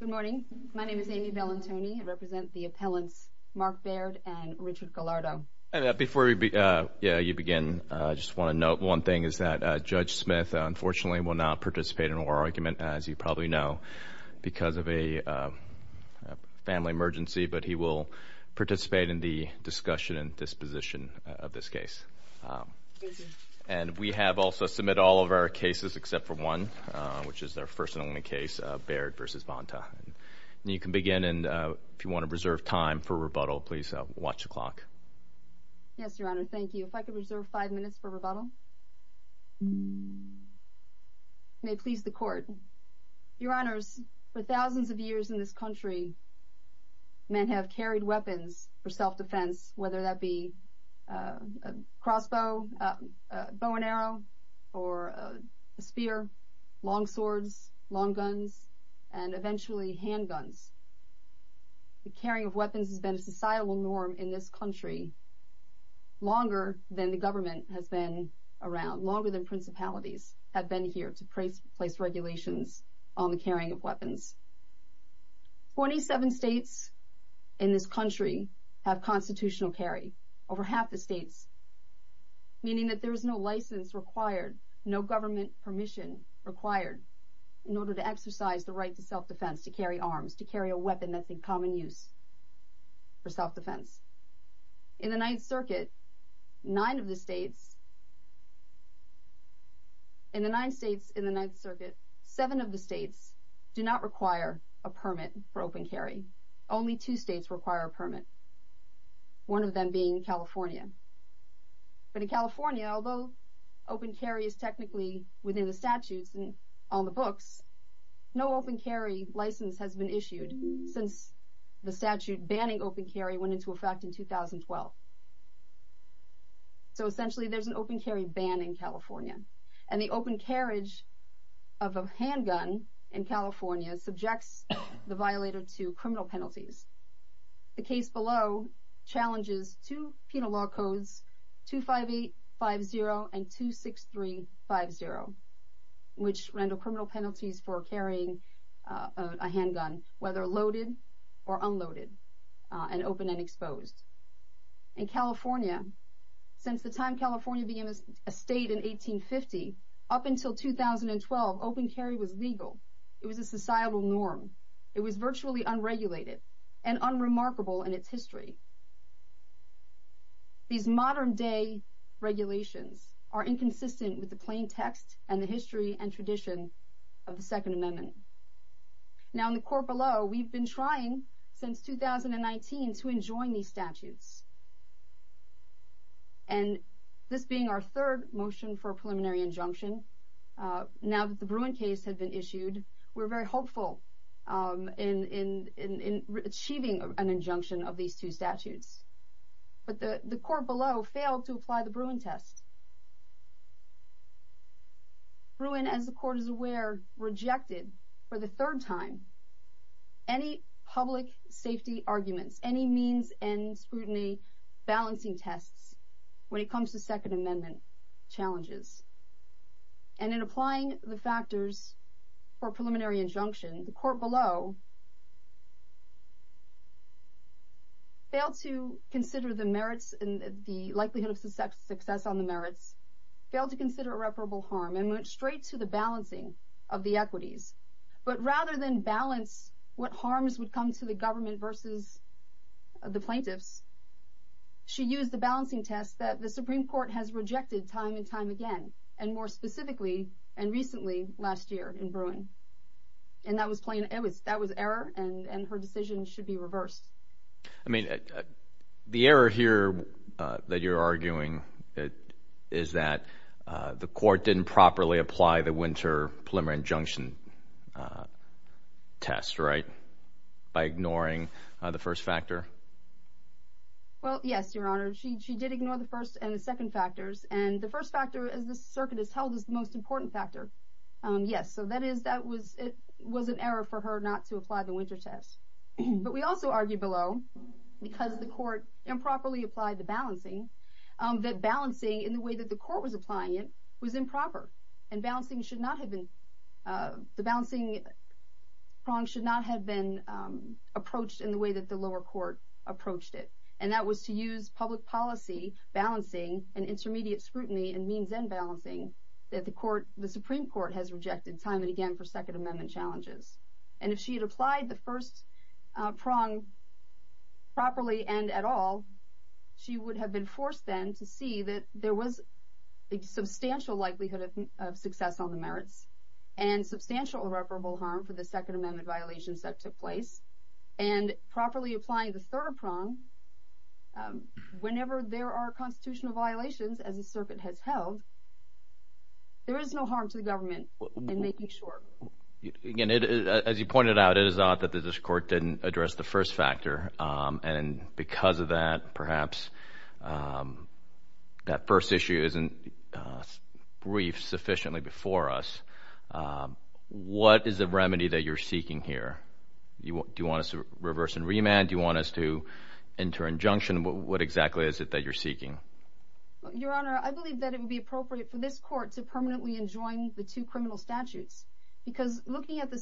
Good morning. My name is Amy Bellantoni. I represent the appellants Mark Baird and Richard Baird. I just want to note one thing is that Judge Smith unfortunately will not participate in oral argument as you probably know because of a family emergency, but he will participate in the discussion and disposition of this case. We have also submitted all of our cases except for one, which is their first and only case, Baird v. Bonta. You can begin and if you want to reserve time for rebuttal, please watch the clock. Yes, Your Honor. Thank you. If I could reserve five minutes for rebuttal. May it please the court. Your Honors, for thousands of years in this country, men have carried weapons for self-defense, whether that be a crossbow, bow and arrow, or a spear, long swords, long guns, and eventually handguns. The carrying of weapons has been a societal norm in this country longer than the government has been around, longer than principalities have been here to place regulations on the carrying of weapons. Twenty-seven states in this country have constitutional carry, over half the states, meaning that there is no license required, no government permission required, in order to exercise the right to self-defense, to carry arms, to carry a weapon that's in common use for self-defense. In the Ninth Circuit, nine of the states, in the nine states in the Ninth Circuit, seven of the states do not require a permit for open carry. Only two states require a permit, one of them being California. But in California, although open carry is technically within the statutes and on the books, no open carry license has been issued since the statute banning open carry went into effect in 2012. So essentially, there's an open carry ban in California, and the open carriage of a handgun in California subjects the violator to criminal penalties. The case below challenges two penal law codes, 25850 and 26350, which render criminal penalties for carrying a handgun, whether loaded or unloaded, and open and exposed. In California, since the time California became a state in 1850, up until 2012, open carry was legal. It was a societal norm. It was virtually unregulated and unremarkable in its history. These modern-day regulations are inconsistent with the plain text and the history and tradition of the Second Amendment. Now, in the court below, we've been trying since 2019 to enjoin these statutes. And this being our third motion for a preliminary injunction, now that the Bruin case had been issued, we're very hopeful in achieving an injunction of these two statutes. But the court below failed to apply the Bruin test. Bruin, as the court is aware, rejected for the third time any public safety arguments, any means and scrutiny balancing tests when it comes to Second Amendment challenges. And in applying the factors for a preliminary injunction, the court below failed to consider the merits and the likelihood of success on the merits, failed to consider irreparable harm, and went straight to the balancing of the equities. But rather than balance what harms would come to the government versus the plaintiffs, she used the balancing test that the Supreme Court has rejected time and time again, and more specifically, and recently, last year in Bruin. And that was error, and her decision should be reversed. I mean, the error here that you're arguing is that the court didn't properly apply the winter preliminary injunction test, right? By ignoring the first factor? Well, yes, Your Honor. She did ignore the first and the second factors. And the first factor, as the circuit has held, is the most important factor. Yes, so that is, it was an error for her not to apply the winter test. The reason for that is that the court below, because the court improperly applied the balancing, that balancing in the way that the court was applying it was improper. And balancing should not have been, the balancing prong should not have been approached in the way that the lower court approached it. And that was to use public policy balancing and intermediate scrutiny and means and balancing that the Supreme Court has rejected time and again for Second Amendment challenges. And if she had applied the first prong properly and at all, she would have been forced then to see that there was a substantial likelihood of success on the merits. And substantial irreparable harm for the Second Amendment violations that took place. And properly applying the third prong, whenever there are constitutional violations, as the circuit has held, there is no harm to the government in making sure. Again, as you pointed out, it is odd that this court didn't address the first factor. And because of that, perhaps that first issue isn't briefed sufficiently before us. What is the remedy that you're seeking here? Do you want us to reverse and remand? Do you want us to enter injunction? What exactly is it that you're seeking? Your Honor, I believe that it would be appropriate for this court to permanently enjoin the two criminal statutes. Because looking at the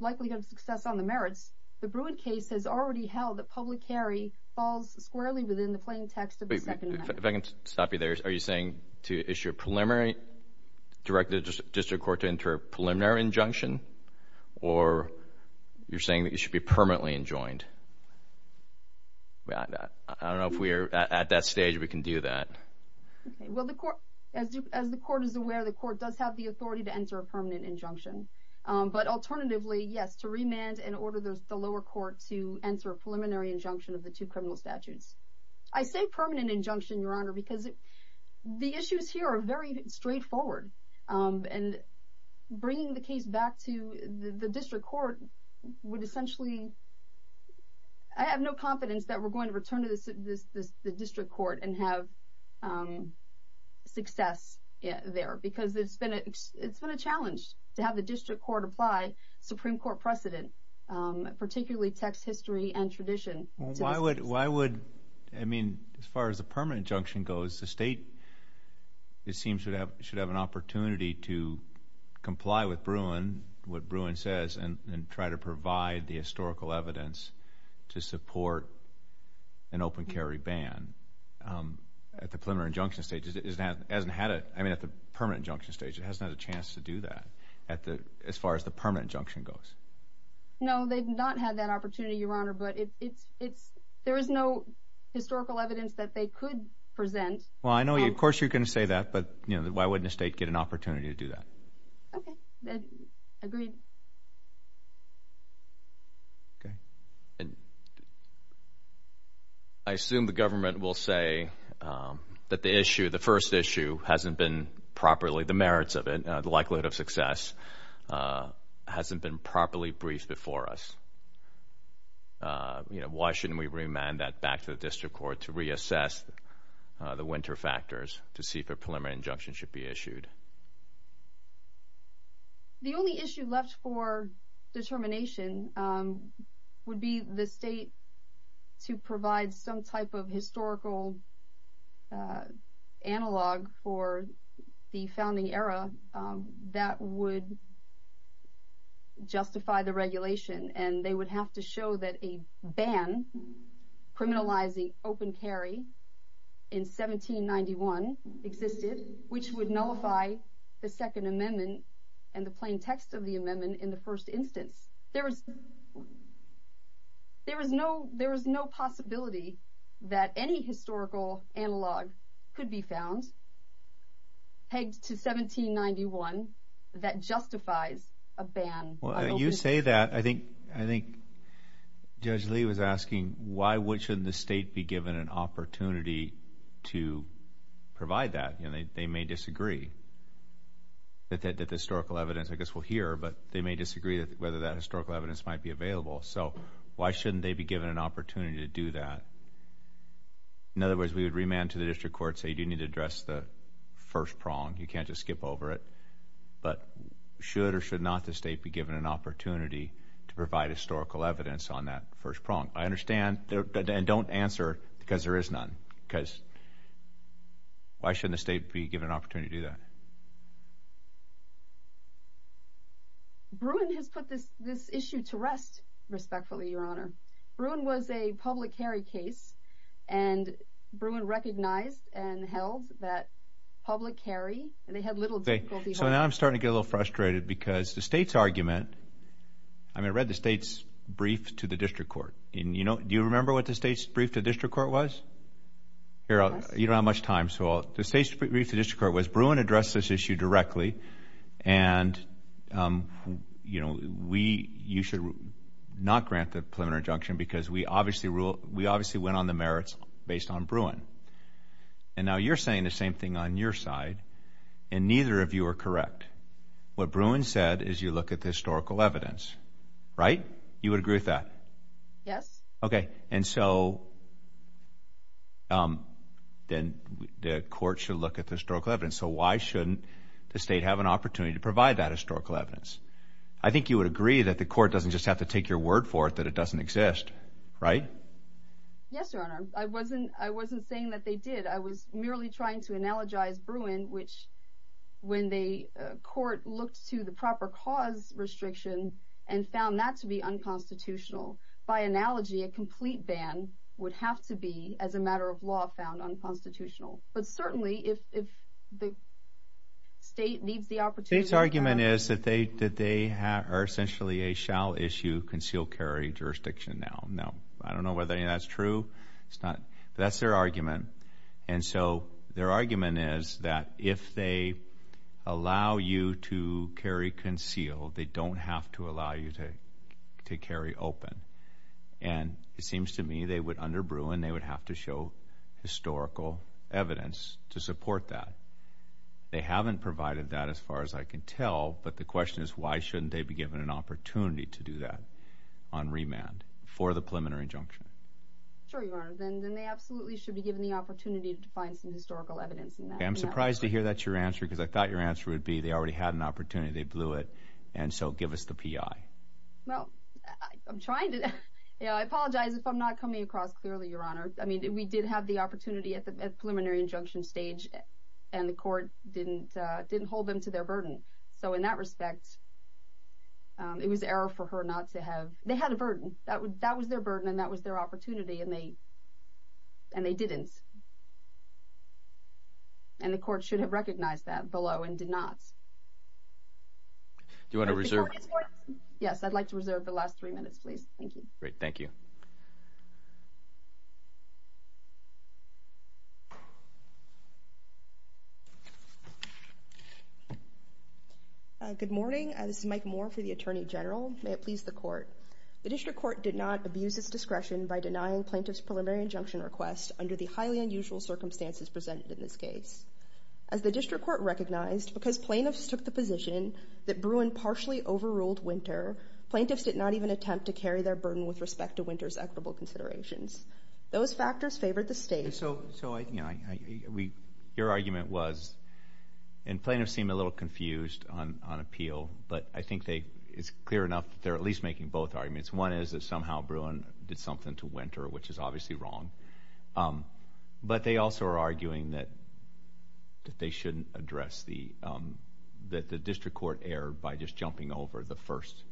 likelihood of success on the merits, the Bruin case has already held that public carry falls squarely within the plain text of the Second Amendment. If I can stop you there, are you saying to issue a preliminary, direct the district court to enter a preliminary injunction? Or you're saying that it should be permanently enjoined? I don't know if at that stage we can do that. As the court is aware, the court does have the authority to enter a permanent injunction. But alternatively, yes, to remand and order the lower court to enter a preliminary injunction of the two criminal statutes. I say permanent injunction, Your Honor, because the issues here are very straightforward. And bringing the case back to the district court would essentially... I have no confidence that we're going to return to the district court and have success there. Because it's been a challenge to have the district court apply Supreme Court precedent, particularly text history and tradition. Why would... I mean, as far as the permanent injunction goes, the state, it seems, should have an opportunity to comply with Bruin, what Bruin says, and try to provide the historical evidence to support an open carry ban at the preliminary injunction stage. It hasn't had a... I mean, at the permanent injunction stage, it hasn't had a chance to do that as far as the permanent injunction goes. No, they've not had that opportunity, Your Honor, but there is no historical evidence that they could present. Well, I know, of course, you're going to say that, but why wouldn't a state get an opportunity to do that? Okay. Agreed. Okay. I assume the government will say that the issue, the first issue, hasn't been properly, the merits of it, the likelihood of success, hasn't been properly briefed before us. Why shouldn't we remand that back to the district court to reassess the winter factors to see if a preliminary injunction should be issued? The only issue left for determination would be the state to provide some type of historical analog for the founding era that would justify the regulation. And they would have to show that a ban criminalizing open carry in 1791 existed, which would nullify the Second Amendment and the plain text of the amendment in the first instance. There is no possibility that any historical analog could be found, pegged to 1791, that justifies a ban on open carry. Well, you say that. I think Judge Lee was asking, why shouldn't the state be given an opportunity to provide that? They may disagree that the historical evidence, I guess, we'll hear, but they may disagree whether that historical evidence might be available. So why shouldn't they be given an opportunity to do that? In other words, we would remand to the district court, say, you need to address the first prong. You can't just skip over it. But should or should not the state be given an opportunity to provide historical evidence on that first prong? I understand, and don't answer because there is none. Because why shouldn't the state be given an opportunity to do that? Bruin has put this issue to rest, respectfully, Your Honor. Bruin was a public carry case, and Bruin recognized and held that public carry, they had little difficulty. So now I'm starting to get a little frustrated because the state's argument, I mean, I read the state's brief to the district court. Do you remember what the state's brief to the district court was? You don't have much time, so the state's brief to the district court was, Bruin addressed this issue directly, and, you know, you should not grant the preliminary injunction because we obviously went on the merits based on Bruin. And now you're saying the same thing on your side, and neither of you are correct. What Bruin said is you look at the historical evidence, right? You would agree with that? Yes. Okay, and so then the court should look at the historical evidence. So why shouldn't the state have an opportunity to provide that historical evidence? I think you would agree that the court doesn't just have to take your word for it that it doesn't exist, right? Yes, Your Honor. I wasn't saying that they did. I was merely trying to analogize Bruin, which when the court looked to the proper cause restriction and found that to be unconstitutional, by analogy, a complete ban would have to be, as a matter of law, found unconstitutional. But certainly, if the state needs the opportunity… The state's argument is that they are essentially a shall-issue, conceal-carry jurisdiction now. Now, I don't know whether any of that's true. That's their argument. And so their argument is that if they allow you to carry concealed, they don't have to allow you to carry open. And it seems to me they would, under Bruin, they would have to show historical evidence to support that. They haven't provided that as far as I can tell, but the question is why shouldn't they be given an opportunity to do that on remand for the preliminary injunction? Sure, Your Honor. Then they absolutely should be given the opportunity to find some historical evidence in that. I'm surprised to hear that's your answer because I thought your answer would be they already had an opportunity, they blew it, and so give us the P.I. Well, I'm trying to… I apologize if I'm not coming across clearly, Your Honor. I mean, we did have the opportunity at the preliminary injunction stage, and the court didn't hold them to their burden. So in that respect, it was error for her not to have… they had a burden. That was their burden and that was their opportunity, and they didn't. And the court should have recognized that below and did not. Do you want to reserve… Yes, I'd like to reserve the last three minutes, please. Thank you. Great. Thank you. Good morning. This is Mike Moore for the Attorney General. May it please the Court. The District Court did not abuse its discretion by denying plaintiff's preliminary injunction request under the highly unusual circumstances presented in this case. As the District Court recognized, because plaintiffs took the position that Bruin partially overruled Winter, plaintiffs did not even attempt to carry their burden with respect to Winter's equitable considerations. Those factors favored the State. So I… your argument was… and plaintiffs seem a little confused on appeal, but I think they… it's clear enough that they're at least making both arguments. One is that somehow Bruin did something to Winter, which is obviously wrong. But they also are arguing that they shouldn't address the… that the District Court erred by just jumping over the first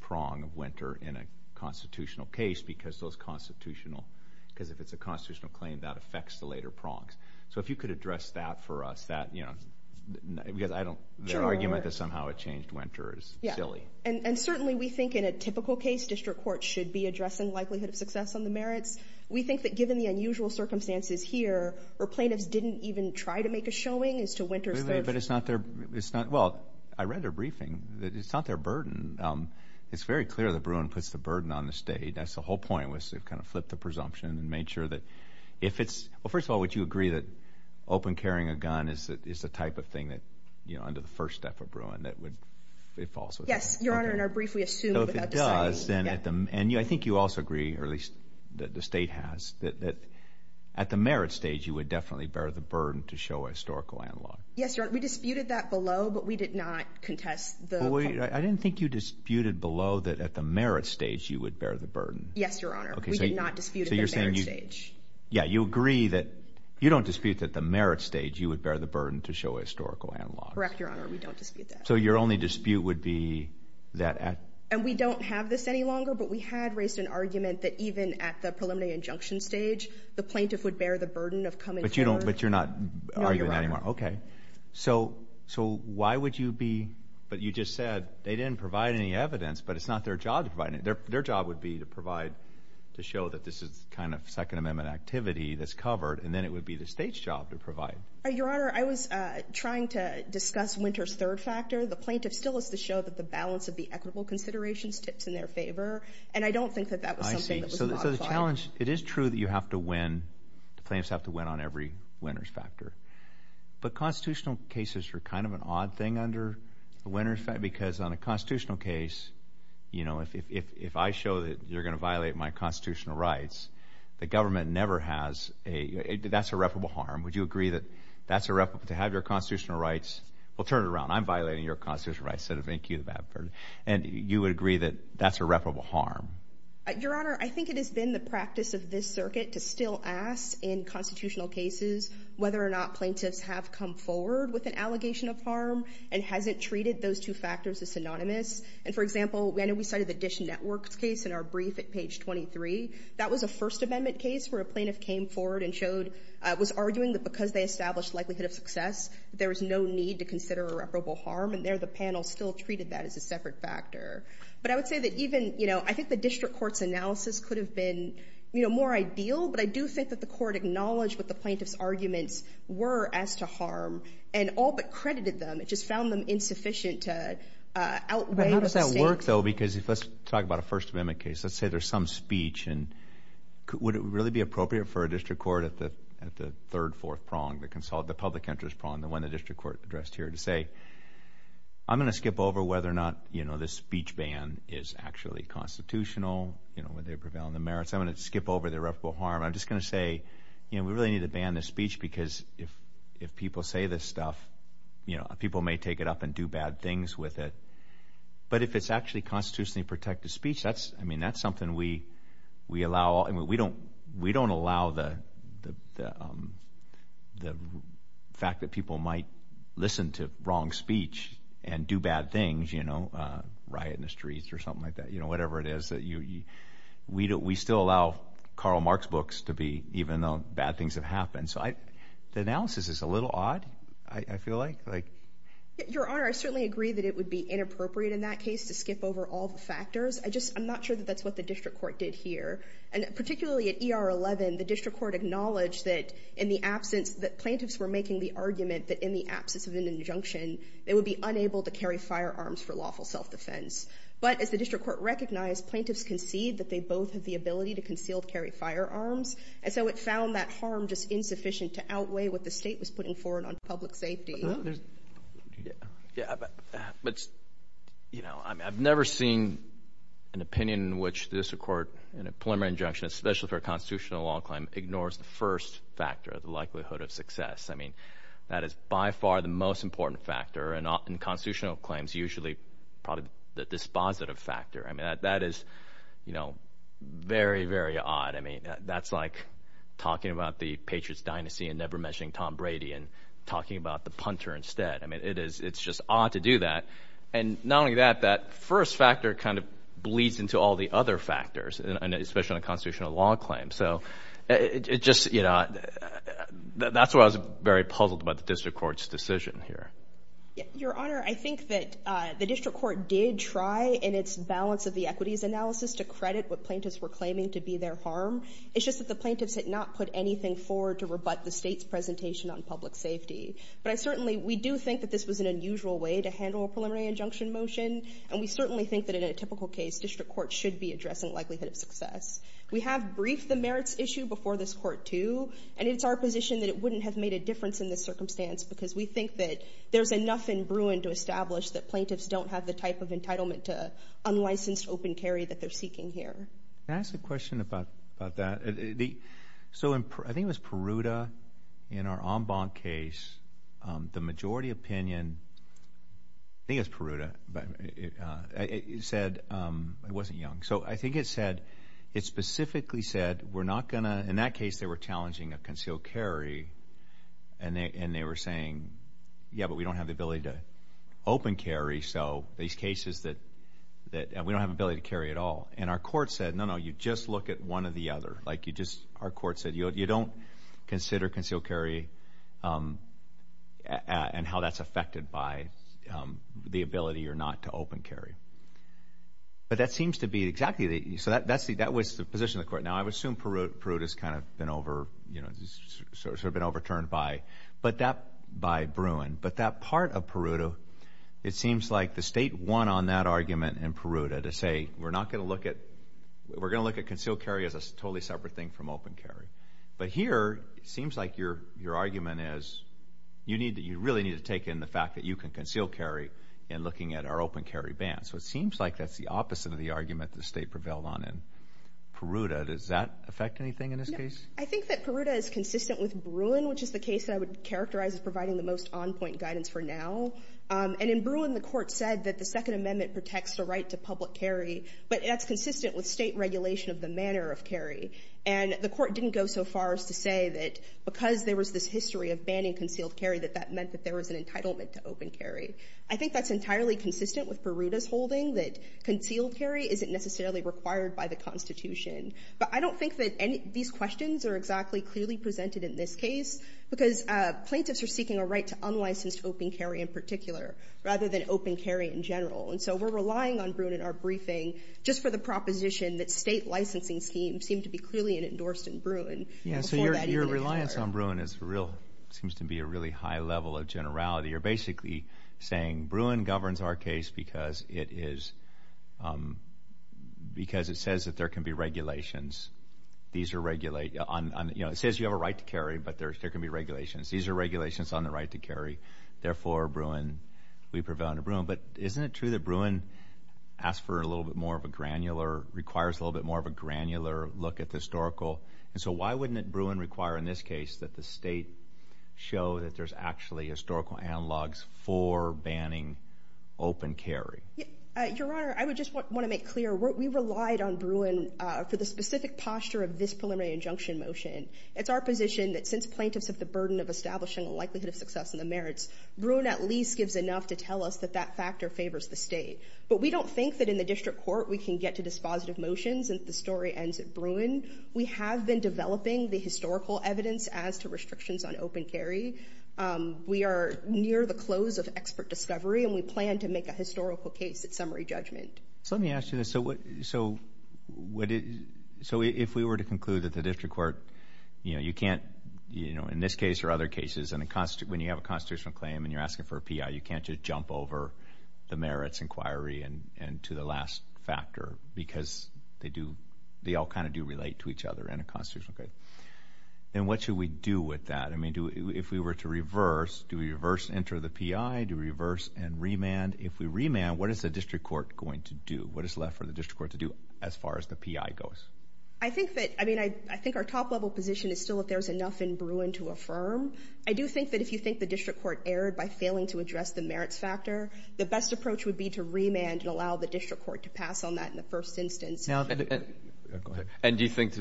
prong of Winter in a constitutional case, because those constitutional… because if it's a constitutional claim, that affects the later prongs. So if you could address that for us, that, you know… because I don't… their argument that somehow it changed Winter is silly. And certainly we think in a typical case, District Court should be addressing likelihood of success on the merits. We think that given the unusual circumstances here, or plaintiffs didn't even try to make a showing as to Winter's… Wait a minute, but it's not their… it's not… well, I read their briefing. It's not their burden. It's very clear that Bruin puts the burden on the State. That's the whole point, was to kind of flip the presumption and make sure that if it's… well, first of all, would you agree that open carrying a gun is a type of thing that, you know, under the first step of Bruin, that would… it falls with that? Yes, Your Honor, in our brief, we assume without deciding. And I think you also agree, or at least the State has, that at the merit stage, you would definitely bear the burden to show a historical analog. Yes, Your Honor, we disputed that below, but we did not contest the… I didn't think you disputed below that at the merit stage, you would bear the burden. Yes, Your Honor, we did not dispute at the merit stage. Yeah, you agree that… you don't dispute that the merit stage, you would bear the burden to show a historical analog. Correct, Your Honor, we don't dispute that. So your only dispute would be that… And we don't have this any longer, but we had raised an argument that even at the preliminary injunction stage, the plaintiff would bear the burden of coming forward. But you don't… but you're not arguing anymore. No, Your Honor. Okay, so why would you be… but you just said they didn't provide any evidence, but it's not their job to provide any. Their job would be to provide… to show that this is kind of Second Amendment activity that's covered, and then it would be the State's job to provide. Your Honor, I was trying to discuss Winter's third factor. The plaintiff still has to show that the balance of the equitable considerations tips in their favor, and I don't think that that was something that was modified. I see. So the challenge… it is true that you have to win… the plaintiffs have to win on every winner's factor. But constitutional cases are kind of an odd thing under the winner's factor because on a constitutional case, you know, if I show that you're going to violate my constitutional rights, the government never has a… that's irreparable harm. Would you agree that that's irreparable to have your constitutional rights… well, turn it around. I'm violating your constitutional rights instead of making you the bad person. And you would agree that that's irreparable harm? Your Honor, I think it has been the practice of this circuit to still ask in constitutional cases whether or not plaintiffs have come forward with an allegation of harm and hasn't treated those two factors as synonymous. And for example, I know we cited the Dish Network case in our brief at page 23. That was a First Amendment case where a plaintiff came forward and showed… was arguing that because they established likelihood of success, there was no need to consider irreparable harm. And there the panel still treated that as a separate factor. But I would say that even, you know, I think the district court's analysis could have been, you know, more ideal, but I do think that the court acknowledged what the plaintiff's arguments were as to harm and all but credited them. It just found them insufficient to outweigh… It would work, though, because if let's talk about a First Amendment case. Let's say there's some speech and would it really be appropriate for a district court at the third, fourth prong, the public interest prong, the one the district court addressed here to say, I'm going to skip over whether or not, you know, this speech ban is actually constitutional, you know, whether they're prevailing the merits. I'm going to skip over the irreparable harm. I'm just going to say, you know, we really need to ban this speech because if people say this stuff, you know, people may take it up and do bad things with it. But if it's actually constitutionally protected speech, that's, I mean, that's something we allow. We don't allow the fact that people might listen to wrong speech and do bad things, you know, riot in the streets or something like that, you know, whatever it is. We still allow Karl Marx books to be, even though bad things have happened. So the analysis is a little odd, I feel like. Your Honor, I certainly agree that it would be inappropriate in that case to skip over all the factors. I just, I'm not sure that that's what the district court did here. And particularly at ER 11, the district court acknowledged that in the absence, that plaintiffs were making the argument that in the absence of an injunction, they would be unable to carry firearms for lawful self-defense. But as the district court recognized, plaintiffs concede that they both have the ability to concealed carry firearms. And so it found that harm just insufficient to outweigh what the state was putting forward on public safety. Yeah, but, you know, I've never seen an opinion in which the district court in a preliminary injunction, especially for a constitutional law claim, ignores the first factor, the likelihood of success. I mean, that is by far the most important factor in constitutional claims, usually probably the dispositive factor. I mean, that is, you know, very, very odd. I mean, that's like talking about the Patriots' dynasty and never mentioning Tom Brady and talking about the punter instead. I mean, it is, it's just odd to do that. And not only that, that first factor kind of bleeds into all the other factors, especially on a constitutional law claim. So it just, you know, that's why I was very puzzled about the district court's decision here. Your Honor, I think that the district court did try in its balance of the equities analysis to credit what plaintiffs were claiming to be their harm. It's just that the plaintiffs had not put anything forward to rebut the state's presentation on public safety. But I certainly, we do think that this was an unusual way to handle a preliminary injunction motion. And we certainly think that in a typical case, district court should be addressing likelihood of success. We have briefed the merits issue before this Court, too. And it's our position that it wouldn't have made a difference in this circumstance because we think that there's enough in Bruin to establish that plaintiffs don't have the type of entitlement to unlicensed open carry that they're seeking here. Can I ask a question about that? So I think it was Peruta in our en banc case. The majority opinion, I think it was Peruta, said, it wasn't Young. So I think it said, it specifically said we're not going to, in that case they were challenging a concealed carry. And they were saying, yeah, but we don't have the ability to open carry. So these cases that, we don't have the ability to carry at all. And our court said, no, no, you just look at one or the other. Like you just, our court said, you don't consider concealed carry and how that's affected by the ability or not to open carry. But that seems to be exactly, so that was the position of the court. Now I would assume Peruta's kind of been over, you know, sort of been overturned by Bruin. But that part of Peruta, it seems like the state won on that argument in Peruta to say we're not going to look at, we're going to look at concealed carry as a totally separate thing from open carry. But here, it seems like your argument is you need to, you really need to take in the fact that you can conceal carry in looking at our open carry ban. So it seems like that's the opposite of the argument the state prevailed on in Peruta. Does that affect anything in this case? No. I think that Peruta is consistent with Bruin, which is the case that I would characterize as providing the most on-point guidance for now. And in Bruin, the court said that the Second Amendment protects the right to public carry, but that's consistent with state regulation of the manner of carry. And the court didn't go so far as to say that because there was this history of banning concealed carry, that that meant that there was an entitlement to open carry. I think that's entirely consistent with Peruta's holding that concealed carry isn't necessarily required by the Constitution. But I don't think that any of these questions are exactly clearly presented in this case because plaintiffs are seeking a right to unlicensed open carry in particular rather than open carry in general. And so we're relying on Bruin in our briefing just for the proposition that state licensing schemes seem to be clearly endorsed in Bruin. Yeah, so your reliance on Bruin is real, seems to be a really high level of generality. You're basically saying Bruin governs our case because it is, because it says that there can be regulations. These are, you know, it says you have a right to carry, but there can be regulations. These are regulations on the right to carry. Therefore, Bruin, we prevail under Bruin. But isn't it true that Bruin asks for a little bit more of a granular, requires a little bit more of a granular look at the historical? And so why wouldn't Bruin require in this case that the state show that there's actually historical analogs for banning open carry? Your Honor, I would just want to make clear, we relied on Bruin for the specific posture of this preliminary injunction motion. It's our position that since plaintiffs have the burden of establishing a likelihood of success in the merits, Bruin at least gives enough to tell us that that factor favors the state. But we don't think that in the district court we can get to dispositive motions if the story ends at Bruin. We have been developing the historical evidence as to restrictions on open carry. We are near the close of expert discovery and we plan to make a historical case at summary judgment. So let me ask you this. So if we were to conclude that the district court, you know, you can't, you know, in this case or other cases, when you have a constitutional claim and you're asking for a P.I., you can't just jump over the merits inquiry and to the last factor because they all kind of do relate to each other in a constitutional case. Then what should we do with that? If we were to reverse, do we reverse enter the P.I., do we reverse and remand? If we remand, what is the district court going to do? What is left for the district court to do as far as the P.I. goes? I think that, I mean, I think our top level position is still if there's enough in Bruin to affirm. I do think that if you think the district court erred by failing to address the merits factor, the best approach would be to remand and allow the district court to pass on that in the first instance. And do you think,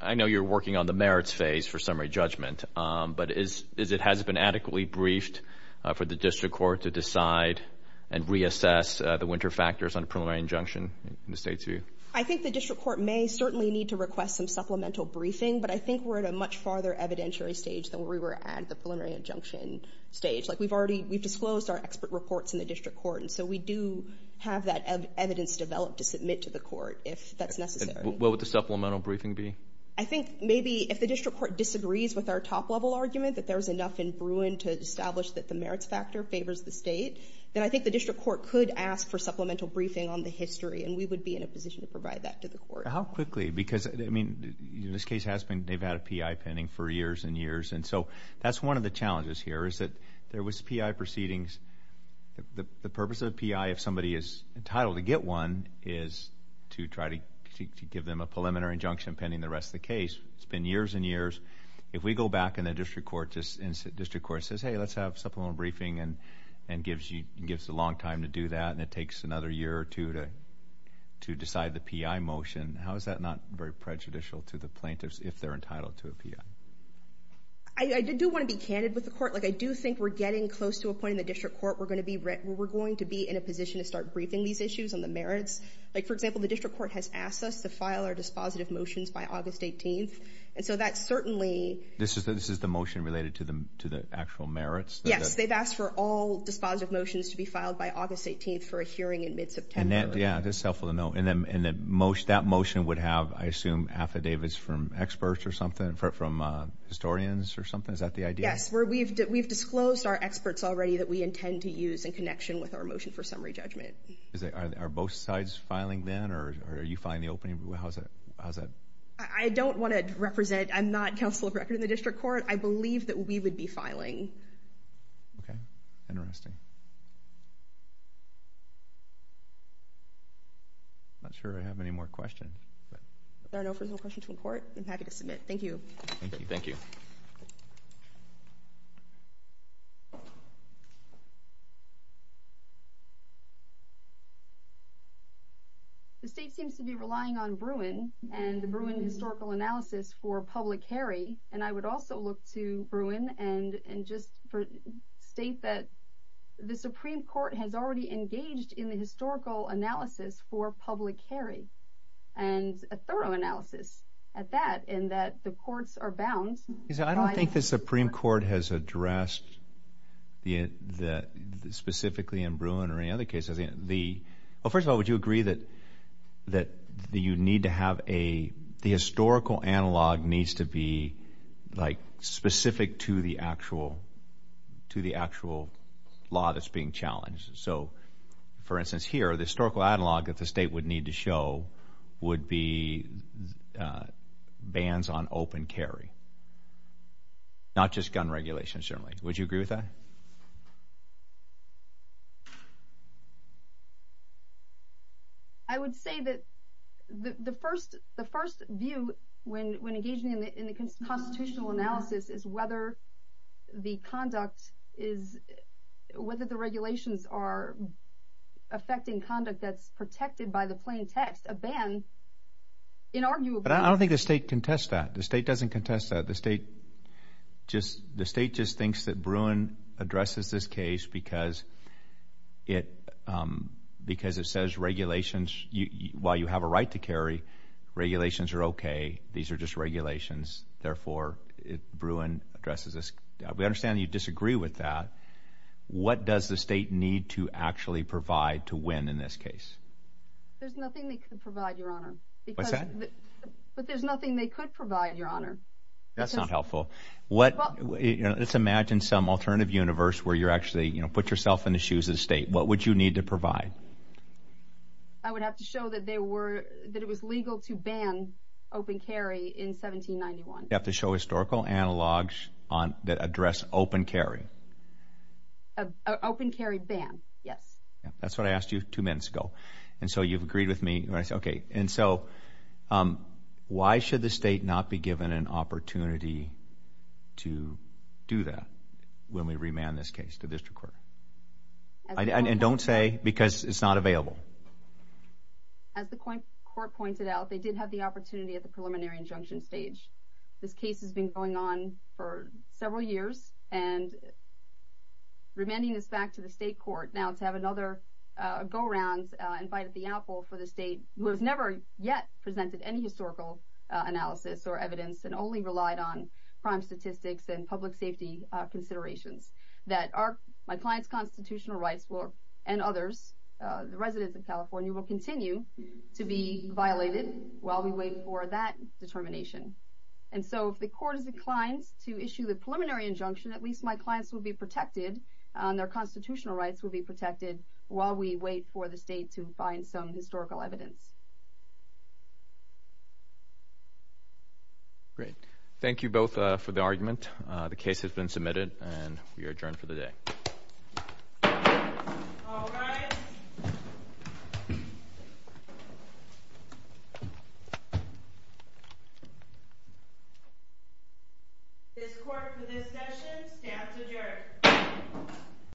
I know you're working on the merits phase for summary judgment, but has it been adequately briefed for the district court to decide and reassess the winter factors on preliminary injunction in the state's view? I think the district court may certainly need to request some supplemental briefing, but I think we're at a much farther evidentiary stage than we were at the preliminary injunction stage. Like we've already, we've disclosed our expert reports in the district court, and so we do have that evidence developed to submit to the court if that's necessary. What would the supplemental briefing be? I think maybe if the district court disagrees with our top-level argument, that there's enough in Bruin to establish that the merits factor favors the state, then I think the district court could ask for supplemental briefing on the history, and we would be in a position to provide that to the court. How quickly? Because, I mean, this case has been, they've had a PI pending for years and years, and so that's one of the challenges here is that there was PI proceedings. The purpose of a PI, if somebody is entitled to get one, is to try to give them a preliminary injunction pending the rest of the case. It's been years and years. If we go back and the district court says, hey, let's have supplemental briefing and gives a long time to do that, and it takes another year or two to decide the PI motion, how is that not very prejudicial to the plaintiffs if they're entitled to a PI? I do want to be candid with the court. Like, I do think we're getting close to a point in the district court where we're going to be in a position to start briefing these issues on the merits. Like, for example, the district court has asked us to file our dispositive motions by August 18th, and so that certainly... This is the motion related to the actual merits? Yes, they've asked for all dispositive motions to be filed by August 18th for a hearing in mid-September. Yeah, that's helpful to know. And that motion would have, I assume, affidavits from experts or something, from historians or something? Is that the idea? Yes, we've disclosed our experts already that we intend to use in connection with our motion for summary judgment. How's that? I don't want to represent... I'm not counsel of record in the district court. I believe that we would be filing. Okay. Interesting. I'm not sure I have any more questions. If there are no further questions from the court, I'm happy to submit. Thank you. Thank you. The state seems to be relying on Bruin and the Bruin historical analysis for public Harry, and I would also look to Bruin and just state that the Supreme Court has already engaged in the historical analysis for public Harry, and a thorough analysis at that, not limited to the Supreme Court, but the courts are bound to the Supreme Court, and I would like to know... I don't think the Supreme Court has addressed specifically in Bruin or any other cases. First of all, would you agree that you need to have a... the historical analog needs to be specific to the actual law that's being challenged? So, for instance, here, the historical analog that the state would need to show would be bans on open carry. Not just gun regulation, certainly. Would you agree with that? I would say that the first view when engaging in the constitutional analysis is whether the conduct is... whether the regulations are affecting conduct that's protected by the plain text. A ban, inarguably... But I don't think the state contests that. The state doesn't contest that. The state just thinks that Bruin addresses this case because it says regulations... while you have a right to carry, regulations are okay. These are just regulations. Therefore, Bruin addresses this. We understand you disagree with that. What does the state need to actually provide to win in this case? There's nothing they could provide, Your Honor. What's that? But there's nothing they could provide, Your Honor. That's wonderful. Let's imagine some alternative universe where you actually put yourself in the shoes of the state. What would you need to provide? I would have to show that it was legal to ban open carry in 1791. You have to show historical analogs that address open carry. Open carry ban, yes. That's what I asked you two minutes ago. And so you've agreed with me. And so why should the state not be given an opportunity to do that when we remand this case to the district court? And don't say because it's not available. As the court pointed out, they did have the opportunity at the preliminary injunction stage. This case has been going on for several years. And remanding this back to the state court now to have another go-around invited the apple for the state who has never yet presented any historical analysis or evidence and only relied on crime statistics and public safety considerations that my client's constitutional rights and others, the residents of California, will continue to be violated while we wait for that determination. And so if the court has declined to issue the preliminary injunction, at least my clients will be protected and their constitutional rights will be protected while we wait for the state to find some historical evidence. Great. Thank you both for the argument. The case has been submitted and we are adjourned for the day. All rise. This court for this session stands adjourned.